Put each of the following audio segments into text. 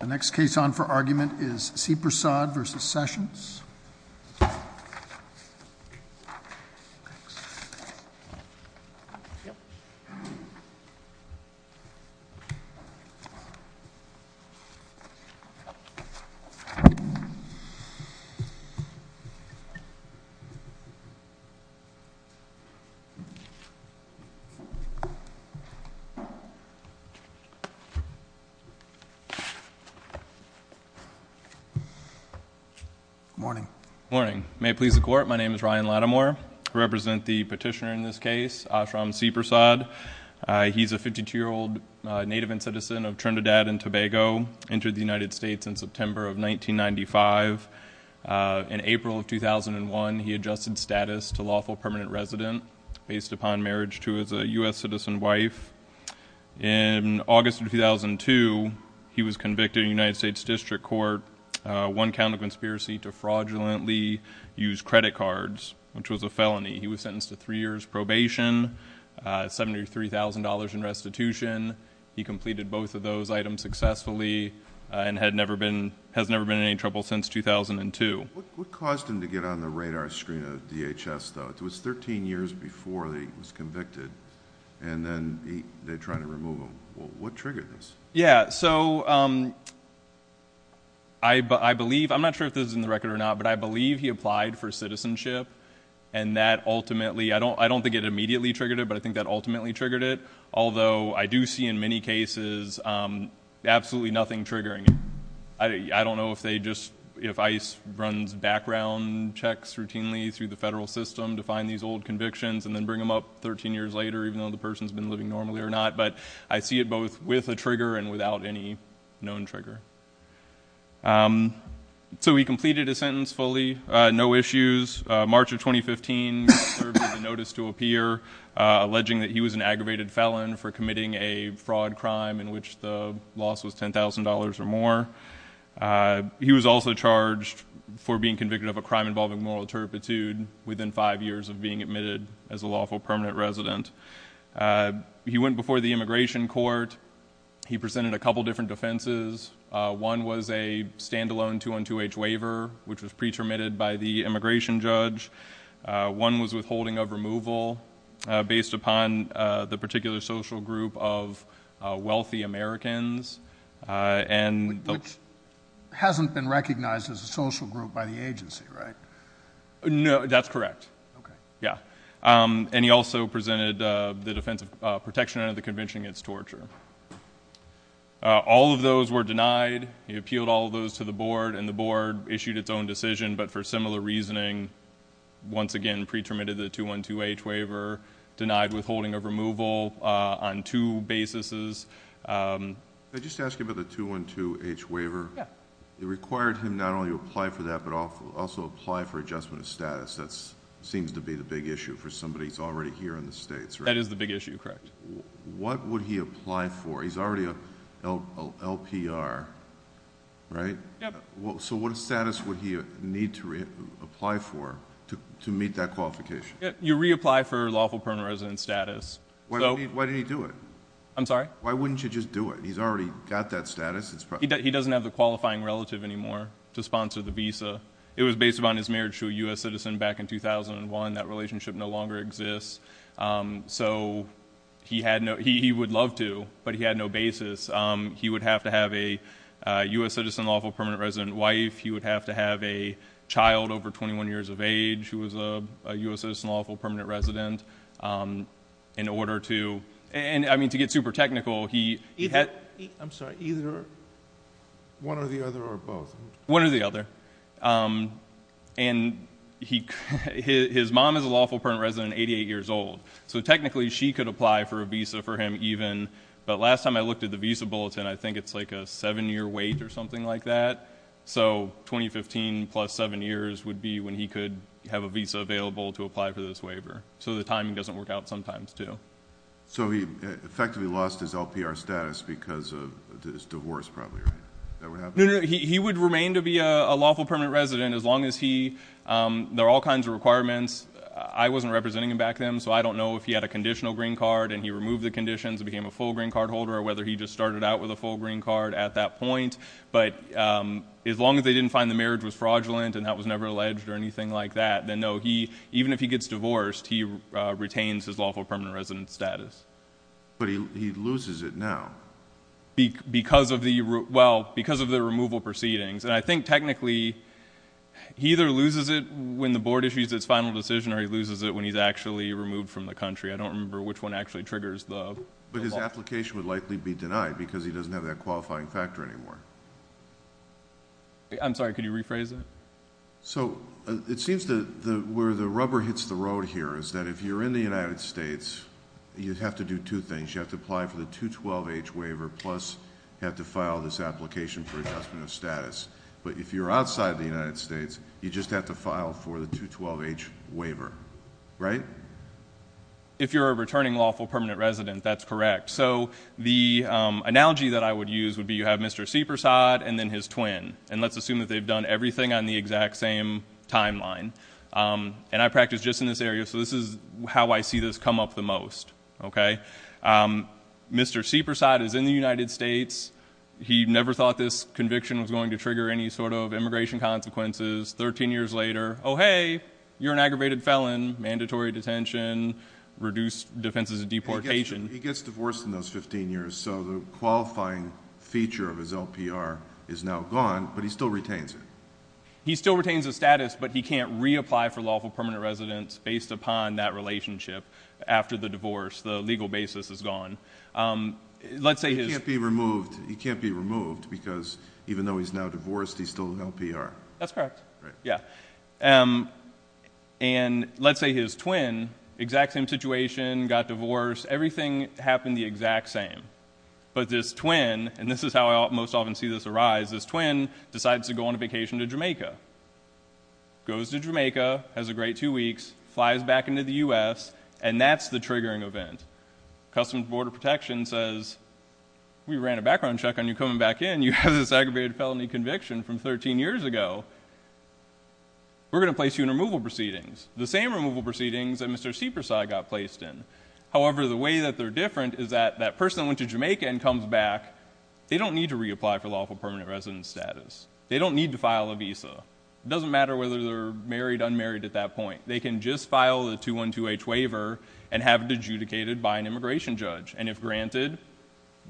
The next case on for argument is Seepersad v. Sessions. Morning. Morning. May it please the court, my name is Ryan Lattimore. I represent the petitioner in this case, Ashram Seepersad. He's a 52-year-old native and citizen of Trinidad and Tobago, entered the United States in September of 1995. In April of 2001, he adjusted status to lawful permanent resident, based upon marriage to his U.S. citizen wife. In August of 2002, he was convicted in a United States district court, one count of conspiracy to fraudulently use credit cards, which was a felony. He was sentenced to three years probation, $73,000 in restitution. He completed both of those items successfully and has never been in any trouble since 2002. What caused him to get on the radar screen of DHS, though? It was 13 years before he was convicted, and then they tried to remove him. What triggered this? I'm not sure if this is in the record or not, but I believe he applied for citizenship. I don't think it immediately triggered it, but I think that ultimately triggered it. Although, I do see in many cases absolutely nothing triggering it. I don't know if ICE runs background checks routinely through the federal system to find these old convictions and then bring them up 13 years later, even though the person's been living normally or not, but I see it both with a trigger and without any known trigger. He completed his sentence fully, no issues. March of 2015, he was served with a notice to appear, alleging that he was an aggravated felon for committing a fraud crime in which the loss was $10,000 or more. He was also charged for being convicted of a crime involving moral turpitude within five years of being admitted as a lawful permanent resident. He went before the immigration court. He presented a couple different defenses. One was a standalone 2-on-2-H waiver, which was pre-termitted by the immigration judge. One was withholding of removal based upon the particular social group of wealthy Americans. Which hasn't been recognized as a social group by the agency, right? No, that's correct. Okay. Yeah. He also presented the defense of protection under the convention against torture. All of those were denied. He appealed all of those to the board, and the board issued its own decision. But for similar reasoning, once again, pre-termitted the 2-on-2-H waiver, denied withholding of removal on two basis. Can I just ask you about the 2-on-2-H waiver? Yeah. It required him not only to apply for that, but also apply for adjustment of status. That seems to be the big issue for somebody who's already here in the States, right? That is the big issue, correct. What would he apply for? He's already a LPR, right? Yep. So what status would he need to apply for to meet that qualification? You reapply for lawful permanent resident status. Why didn't he do it? I'm sorry? Why wouldn't you just do it? He's already got that status. He doesn't have the qualifying relative anymore to sponsor the visa. It was based upon his marriage to a U.S. citizen back in 2001. That relationship no longer exists. So he would love to, but he had no basis. He would have to have a U.S. citizen lawful permanent resident wife. He would have to have a child over 21 years of age who was a U.S. citizen lawful permanent resident in order to... I mean, to get super technical, he had... I'm sorry. Either one or the other or both? One or the other. And his mom is a lawful permanent resident 88 years old, so technically she could apply for a visa for him even. But last time I looked at the visa bulletin, I think it's like a seven-year wait or something like that. So 2015 plus seven years would be when he could have a visa available to apply for this waiver. So the timing doesn't work out sometimes, too. So he effectively lost his LPR status because of his divorce, probably, right? Is that what happened? No, no, no. He would remain to be a lawful permanent resident as long as he... There are all kinds of requirements. I wasn't representing him back then, so I don't know if he had a conditional green card and he removed the conditions and became a full green card holder or whether he just started out with a full green card at that point. But as long as they didn't find the marriage was fraudulent and that was never alleged or anything like that, then, no, even if he gets divorced, he retains his lawful permanent resident status. But he loses it now. Because of the removal proceedings. And I think technically he either loses it when the board issues its final decision or he loses it when he's actually removed from the country. I don't remember which one actually triggers the... But his application would likely be denied because he doesn't have that qualifying factor anymore. I'm sorry. Could you rephrase that? So it seems that where the rubber hits the road here is that if you're in the United States, you have to do two things. You have to apply for the 212H waiver plus you have to file this application for adjustment of status. But if you're outside the United States, you just have to file for the 212H waiver. Right? If you're a returning lawful permanent resident, that's correct. So the analogy that I would use would be you have Mr. Seepersod and then his twin. And let's assume that they've done everything on the exact same timeline. And I practice just in this area, so this is how I see this come up the most. Okay? Mr. Seepersod is in the United States. He never thought this conviction was going to trigger any sort of immigration consequences. Thirteen years later, oh hey, you're an aggravated felon, mandatory detention, reduced defenses of deportation. He gets divorced in those 15 years, so the qualifying feature of his LPR is now gone, but he still retains it. He still retains his status, but he can't reapply for lawful permanent residence based upon that relationship after the divorce. The legal basis is gone. Let's say his- He can't be removed because even though he's now divorced, he's still an LPR. That's correct. Right. Yeah. And let's say his twin, exact same situation, got divorced. Everything happened the exact same. But this twin, and this is how I most often see this arise, this twin decides to go on a vacation to Jamaica. Goes to Jamaica, has a great two weeks, flies back into the U.S., and that's the triggering event. Customs and Border Protection says, we ran a background check on you coming back in. You have this aggravated felony conviction from 13 years ago. We're going to place you in removal proceedings. The same removal proceedings that Mr. Seepersod got placed in. However, the way that they're different is that that person went to Jamaica and comes back, they don't need to reapply for lawful permanent residence status. They don't need to file a visa. It doesn't matter whether they're married, unmarried at that point. They can just file a 212H waiver and have it adjudicated by an immigration judge. And if granted,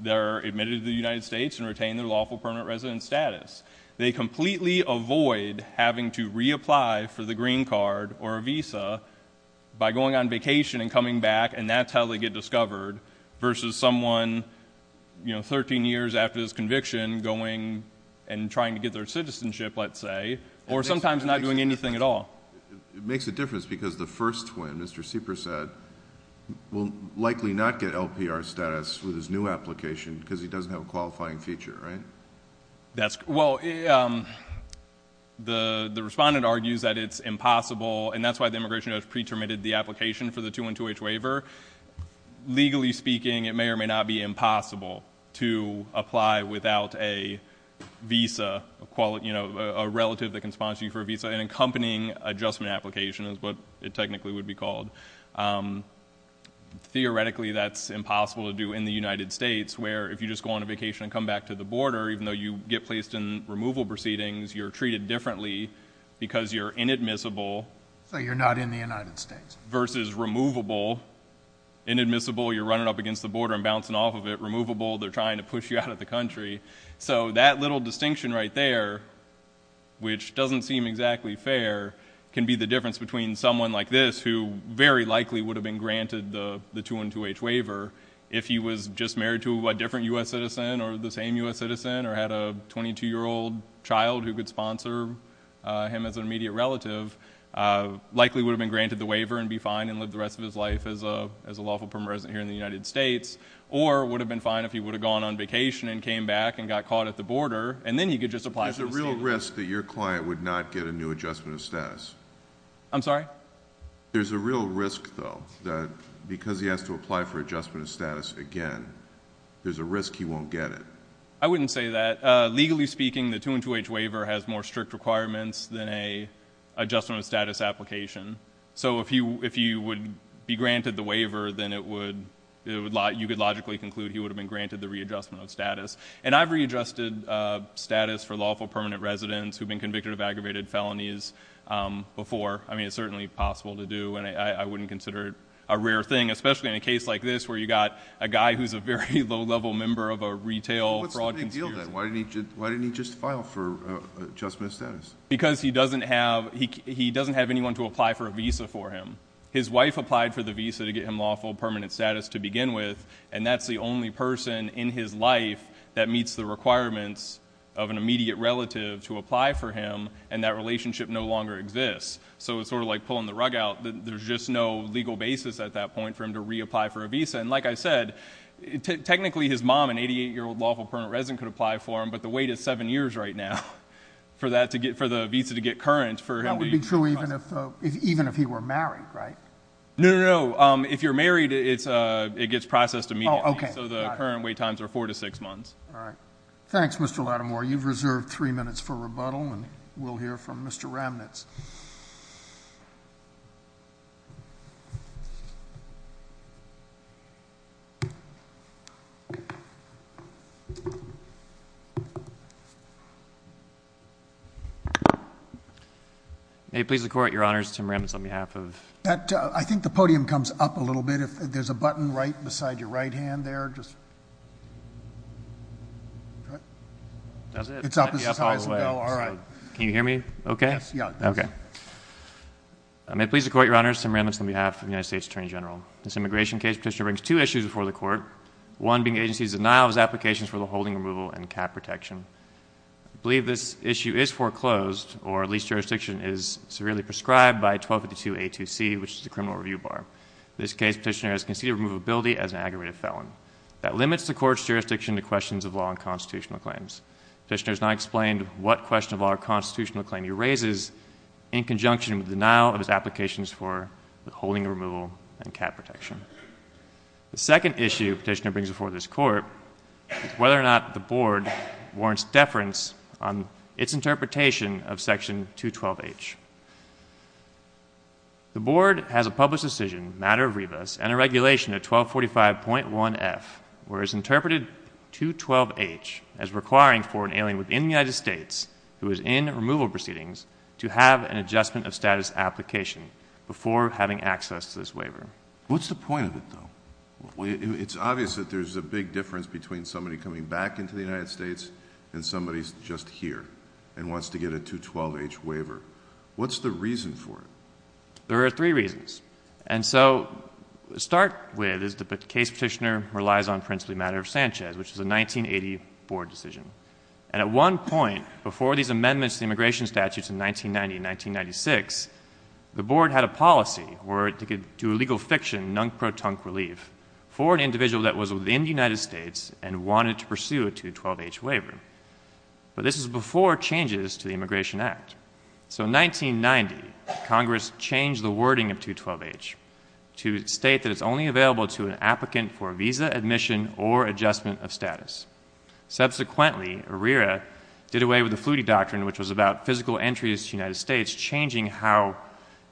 they're admitted to the United States and retain their lawful permanent residence status. They completely avoid having to reapply for the green card or a visa by going on vacation and coming back. And that's how they get discovered versus someone 13 years after this conviction going and trying to get their citizenship, let's say. Or sometimes not doing anything at all. It makes a difference because the first twin, Mr. Seepersod, will likely not get LPR status with his new application because he doesn't have a qualifying feature, right? That's, well, the respondent argues that it's impossible and that's why the immigration judge pre-terminated the application for the 212H waiver. Legally speaking, it may or may not be impossible to apply without a visa, a relative that can sponsor you for a visa, an accompanying adjustment application is what it technically would be called. Theoretically, that's impossible to do in the United States where if you just go on a vacation and come back to the border, even though you get placed in removal proceedings, you're treated differently because you're inadmissible. So you're not in the United States. Versus removable. Inadmissible, you're running up against the border and bouncing off of it. Removable, they're trying to push you out of the country. So that little distinction right there, which doesn't seem exactly fair, can be the difference between someone like this who very likely would have been granted the 212H waiver if he was just married to a different U.S. citizen or the same U.S. citizen or had a 22-year-old child who could sponsor him as an immediate relative, likely would have been granted the waiver and be fine and live the rest of his life as a lawful permanent resident here in the United States or would have been fine if he would have gone on vacation and came back and got caught at the border, and then he could just apply for the status. There's a real risk that your client would not get a new adjustment of status. I'm sorry? There's a real risk, though, that because he has to apply for adjustment of status again, there's a risk he won't get it. I wouldn't say that. Legally speaking, the 212H waiver has more strict requirements than an adjustment of status application. So if you would be granted the waiver, then you could logically conclude he would have been granted the readjustment of status. And I've readjusted status for lawful permanent residents who have been convicted of aggravated felonies before. I mean, it's certainly possible to do, and I wouldn't consider it a rare thing, especially in a case like this where you've got a guy who's a very low-level member of a retail fraud conspiracy. What's the big deal, then? Why didn't he just file for adjustment of status? Because he doesn't have anyone to apply for a visa for him. His wife applied for the visa to get him lawful permanent status to begin with, and that's the only person in his life that meets the requirements of an immediate relative to apply for him, and that relationship no longer exists. So it's sort of like pulling the rug out. There's just no legal basis at that point for him to reapply for a visa. And like I said, technically his mom, an 88-year-old lawful permanent resident, could apply for him, but the wait is seven years right now for the visa to get current for him to be processed. That would be true even if he were married, right? No, no, no. If you're married, it gets processed immediately. Oh, okay. So the current wait times are four to six months. All right. Thanks, Mr. Lattimore. You've reserved three minutes for rebuttal, and we'll hear from Mr. Ramnitz. May it please the Court, Your Honors, Tim Ramnitz on behalf of... I think the podium comes up a little bit. If there's a button right beside your right hand there, just... That's it. It's up as high as it goes. All right. Can you hear me okay? Yes, yeah. Okay. May it please the Court, Your Honors, Tim Ramnitz on behalf of the United States Attorney General. This immigration case petitioner brings two issues before the Court, one being the agency's denial of his applications for the holding removal and cap protection. I believe this issue is foreclosed, or at least jurisdiction is severely prescribed by 1252A2C, which is the criminal review bar. In this case, petitioner has conceded removability as an aggravated felon. That limits the Court's jurisdiction to questions of law and constitutional claims. Petitioner has not explained what question of law or constitutional claim he raises in conjunction with denial of his applications for the holding removal and cap protection. The second issue petitioner brings before this Court is whether or not the Board warrants deference on its interpretation of Section 212H. The Board has a published decision, matter of rebus, and a regulation at 1245.1F where it's interpreted 212H as requiring for an alien within the United States who is in removal proceedings to have an adjustment of status application before having access to this waiver. What's the point of it, though? It's obvious that there's a big difference between somebody coming back into the United States and somebody just here and wants to get a 212H waiver. What's the reason for it? There are three reasons. And so to start with is that the case petitioner relies on principally matter of Sanchez, which is a 1980 Board decision. And at one point, before these amendments to the immigration statutes in 1990 and 1996, the Board had a policy where it could do legal fiction, nunk-pro-tunk relief, for an individual that was within the United States and wanted to pursue a 212H waiver. But this was before changes to the Immigration Act. So in 1990, Congress changed the wording of 212H to state that it's only available to an applicant for visa admission or adjustment of status. Subsequently, ARERA did away with the Flutie doctrine, which was about physical entries to the United States changing how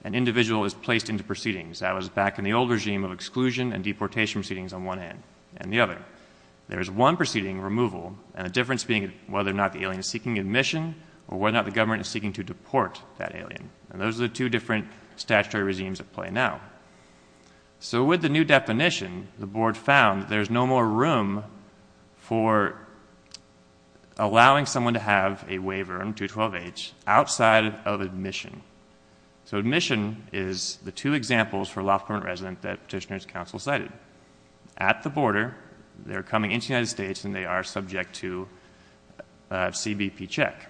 an individual is placed into proceedings. That was back in the old regime of exclusion and deportation proceedings on one end and the other. There was one proceeding, removal, and the difference being whether or not the alien is seeking admission or whether or not the government is seeking to deport that alien. And those are the two different statutory regimes at play now. So with the new definition, the Board found there's no more room for allowing someone to have a waiver on 212H outside of admission. So admission is the two examples for a lawful permanent resident that Petitioner's Council cited. At the border, they're coming into the United States and they are subject to a CBP check.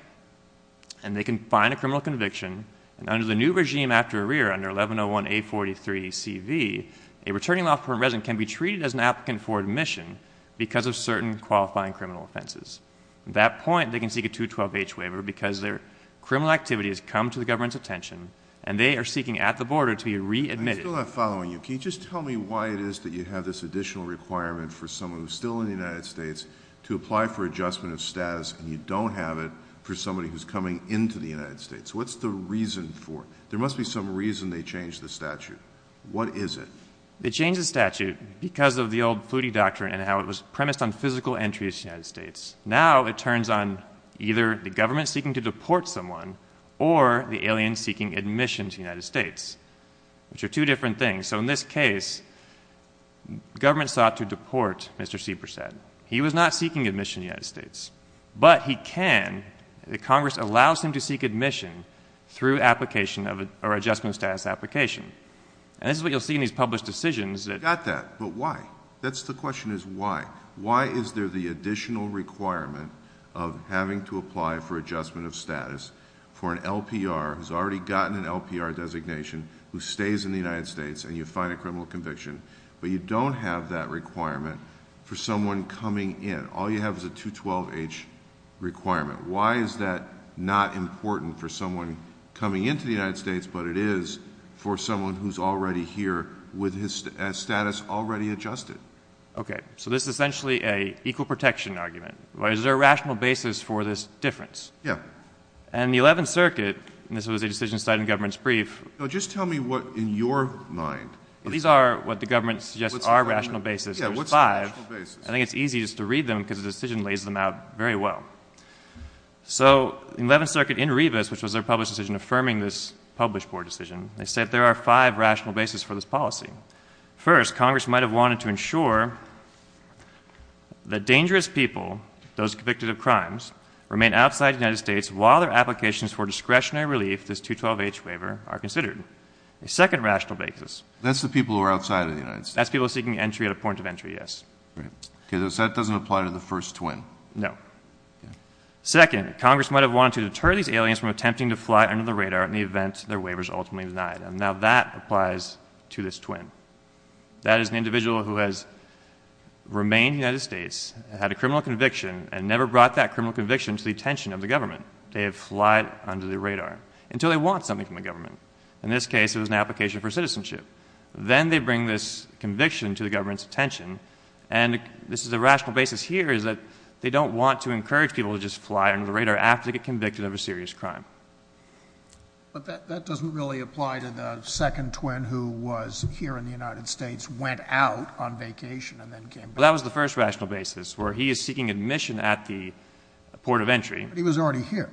And they can find a criminal conviction. And under the new regime after ARERA, under 1101A43CV, a returning lawful permanent resident can be treated as an applicant for admission because of certain qualifying criminal offenses. At that point, they can seek a 212H waiver because their criminal activity has come to the government's attention and they are seeking at the border to be readmitted. I'm still not following you. Can you just tell me why it is that you have this additional requirement for someone who's still in the United States to apply for adjustment of status and you don't have it for somebody who's coming into the United States? What's the reason for it? There must be some reason they changed the statute. What is it? They changed the statute because of the old Flutie doctrine and how it was premised on physical entry into the United States. Now it turns on either the government seeking to deport someone or the alien seeking admission to the United States, which are two different things. So in this case, government sought to deport Mr. Seepersad. He was not seeking admission to the United States, but he can. Congress allows him to seek admission through adjustment of status application. And this is what you'll see in these published decisions. I got that, but why? That's the question is why. Why is there the additional requirement of having to apply for adjustment of status for an LPR who's already gotten an LPR designation, who stays in the United States and you find a criminal conviction, but you don't have that requirement for someone coming in? All you have is a 212H requirement. Why is that not important for someone coming into the United States, but it is for someone who's already here with his status already adjusted? Okay. So this is essentially an equal protection argument. Why is there a rational basis for this difference? Yeah. And the 11th Circuit, and this was a decision cited in the government's brief. No, just tell me what in your mind. These are what the government suggests are rational basis. Yeah, what's the rational basis? I think it's easiest to read them because the decision lays them out very well. So the 11th Circuit in Revis, which was their published decision affirming this published board decision, they said there are five rational basis for this policy. First, Congress might have wanted to ensure that dangerous people, those convicted of crimes, remain outside the United States while their applications for discretionary relief, this 212H waiver, are considered. The second rational basis. That's the people who are outside of the United States. That's people seeking entry at a point of entry, yes. Okay. So that doesn't apply to the first twin? No. Okay. Second, Congress might have wanted to deter these aliens from attempting to fly under the radar in the event their waiver is ultimately denied. And now that applies to this twin. That is an individual who has remained in the United States, had a criminal conviction, and never brought that criminal conviction to the attention of the government. They have flied under the radar until they want something from the government. In this case, it was an application for citizenship. Then they bring this conviction to the government's attention, and this is the rational basis here is that they don't want to encourage people to just fly under the radar after they get convicted of a serious crime. But that doesn't really apply to the second twin who was here in the United States, went out on vacation, and then came back. Well, that was the first rational basis, where he is seeking admission at the port of entry. But he was already here.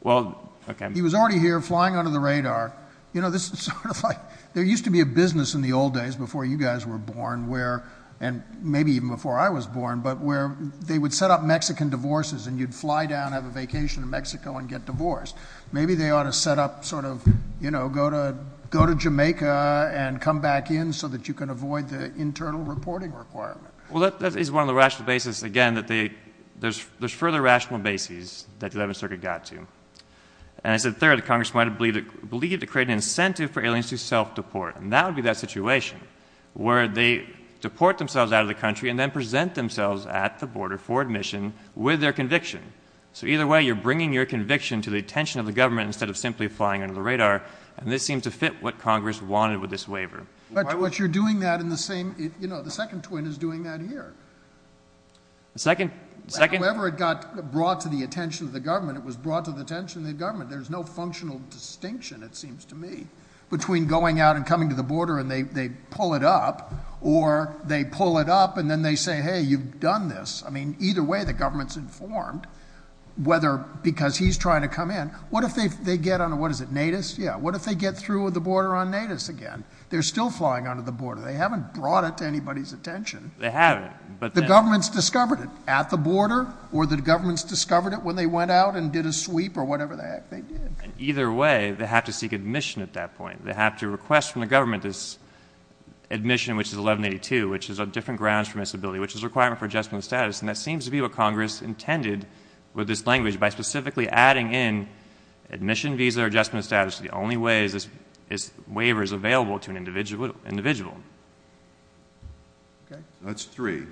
Well, okay. He was already here flying under the radar. You know, this is sort of like there used to be a business in the old days before you guys were born where, and maybe even before I was born, but where they would set up Mexican divorces, and you'd fly down, have a vacation in Mexico, and get divorced. Maybe they ought to set up sort of, you know, go to Jamaica and come back in so that you can avoid the internal reporting requirement. Well, that is one of the rational basis, again, that there's further rational basis that the 11th Circuit got to. And as a third, Congress might have believed to create an incentive for aliens to self-deport. And that would be that situation where they deport themselves out of the country and then present themselves at the border for admission with their conviction. So either way, you're bringing your conviction to the attention of the government instead of simply flying under the radar. And this seems to fit what Congress wanted with this waiver. But you're doing that in the same, you know, the second twin is doing that here. The second? However it got brought to the attention of the government, it was brought to the attention of the government. There's no functional distinction, it seems to me, between going out and coming to the border and they pull it up, or they pull it up and then they say, hey, you've done this. I mean, either way, the government's informed, whether because he's trying to come in. What if they get on, what is it, Natus? Yeah, what if they get through the border on Natus again? They're still flying under the border. They haven't brought it to anybody's attention. They haven't. The government's discovered it at the border or the government's discovered it when they went out and did a sweep or whatever the heck they did. Either way, they have to seek admission at that point. They have to request from the government this admission which is 1182, which is on different grounds for miscibility, which is a requirement for adjustment of status, and that seems to be what Congress intended with this language by specifically adding in admission, visa, or adjustment of status to the only way this waiver is available to an individual. Okay. That's three.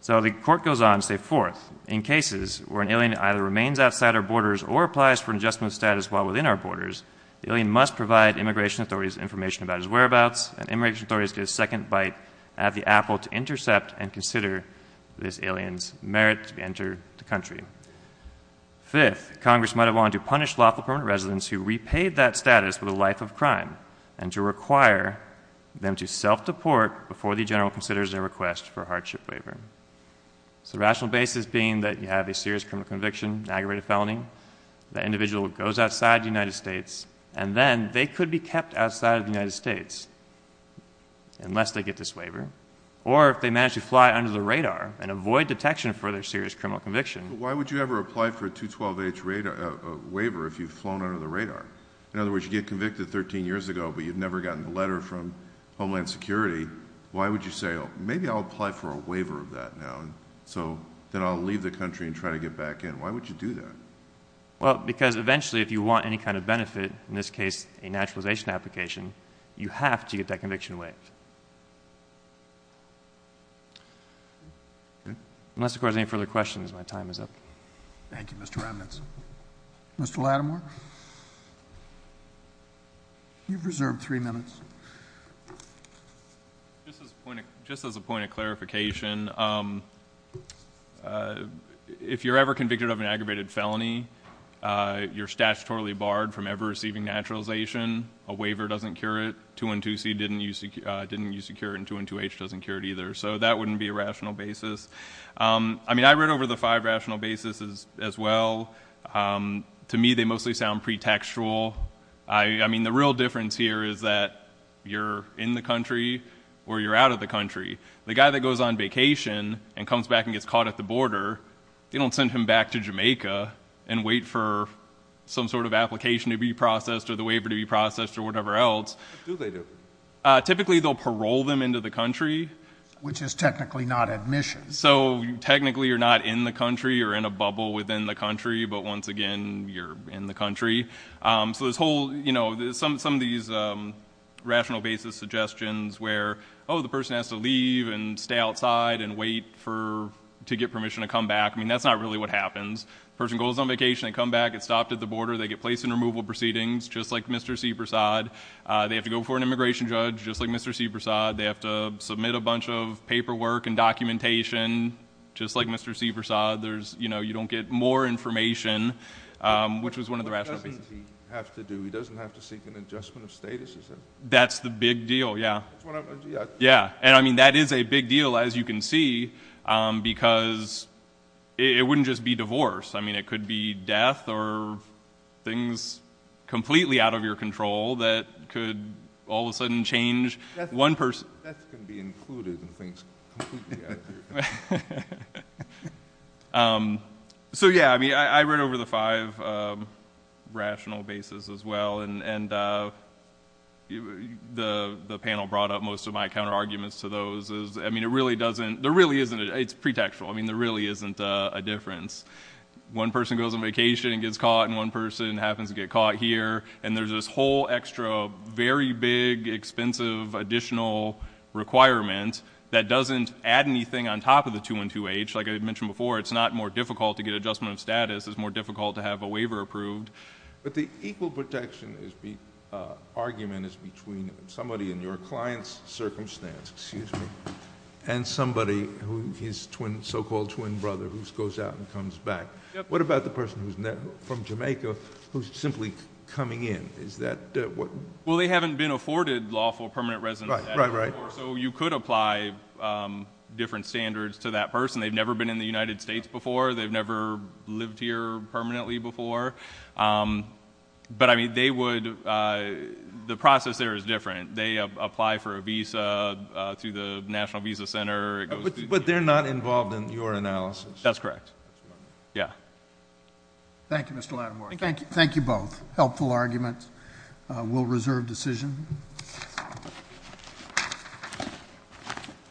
So the court goes on to say, fourth, in cases where an alien either remains outside our borders or applies for an adjustment of status while within our borders, the alien must provide immigration authorities information about his whereabouts, and immigration authorities get a second bite at the apple to intercept and consider this alien's merit to enter the country. Fifth, Congress might have wanted to punish lawful permanent residents who repaid that status with a life of crime and to require them to self-deport before the general considers their request for a hardship waiver. So the rational basis being that you have a serious criminal conviction, an aggravated felony, that individual goes outside the United States, and then they could be kept outside of the United States unless they get this waiver, or if they manage to fly under the radar and avoid detection for their serious criminal conviction. Why would you ever apply for a 212H waiver if you've flown under the radar? In other words, you get convicted 13 years ago, but you've never gotten a letter from Homeland Security. Why would you say, maybe I'll apply for a waiver of that now, so then I'll leave the country and try to get back in. Why would you do that? Well, because eventually if you want any kind of benefit, in this case a naturalization application, you have to get that conviction waived. Unless, of course, there are any further questions, my time is up. Thank you, Mr. Remnitz. Mr. Lattimore? You've reserved three minutes. Just as a point of clarification, if you're ever convicted of an aggravated felony, you're statutorily barred from ever receiving naturalization. A waiver doesn't cure it. 212C didn't use to cure it, and 212H doesn't cure it either. So that wouldn't be a rational basis. I mean, I read over the five rational basis as well. To me, they mostly sound pretextual. I mean, the real difference here is that you're in the country or you're out of the country. The guy that goes on vacation and comes back and gets caught at the border, they don't send him back to Jamaica and wait for some sort of application to be processed or the waiver to be processed or whatever else. What do they do? Typically they'll parole them into the country. Which is technically not admission. So technically you're not in the country or in a bubble within the country, but once again you're in the country. So there's some of these rational basis suggestions where, oh, the person has to leave and stay outside and wait to get permission to come back. I mean, that's not really what happens. The person goes on vacation, they come back, get stopped at the border, they get placed in removal proceedings, just like Mr. Sebersod. They have to go before an immigration judge, just like Mr. Sebersod. They have to submit a bunch of paperwork and documentation, just like Mr. Sebersod. You don't get more information, which was one of the rational basis. What doesn't he have to do? He doesn't have to seek an adjustment of status? That's the big deal, yeah. And I mean, that is a big deal, as you can see, because it wouldn't just be divorce. I mean, it could be death or things completely out of your control that could all of a sudden change one person. Death can be included in things completely out of your control. So, yeah, I mean, I read over the five rational basis as well. And the panel brought up most of my counterarguments to those. I mean, it really doesn't... There really isn't... It's pretextual. I mean, there really isn't a difference. One person goes on vacation and gets caught, and one person happens to get caught here, and there's this whole extra, very big, expensive additional requirement that doesn't add anything on top of the 212H. Like I mentioned before, it's not more difficult to get adjustment of status. It's more difficult to have a waiver approved. But the equal protection argument is between somebody in your client's circumstance, excuse me, and somebody, his so-called twin brother, who goes out and comes back. What about the person from Jamaica who's simply coming in? Is that what... Well, they haven't been afforded lawful permanent residency. Right, right, right. So you could apply different standards to that person. They've never been in the United States before. They've never lived here permanently before. But, I mean, they would... The process there is different. They apply for a visa through the National Visa Center. But they're not involved in your analysis. That's correct. Yeah. Thank you, Mr. Latimore. Thank you both. Helpful arguments. We'll reserve decision.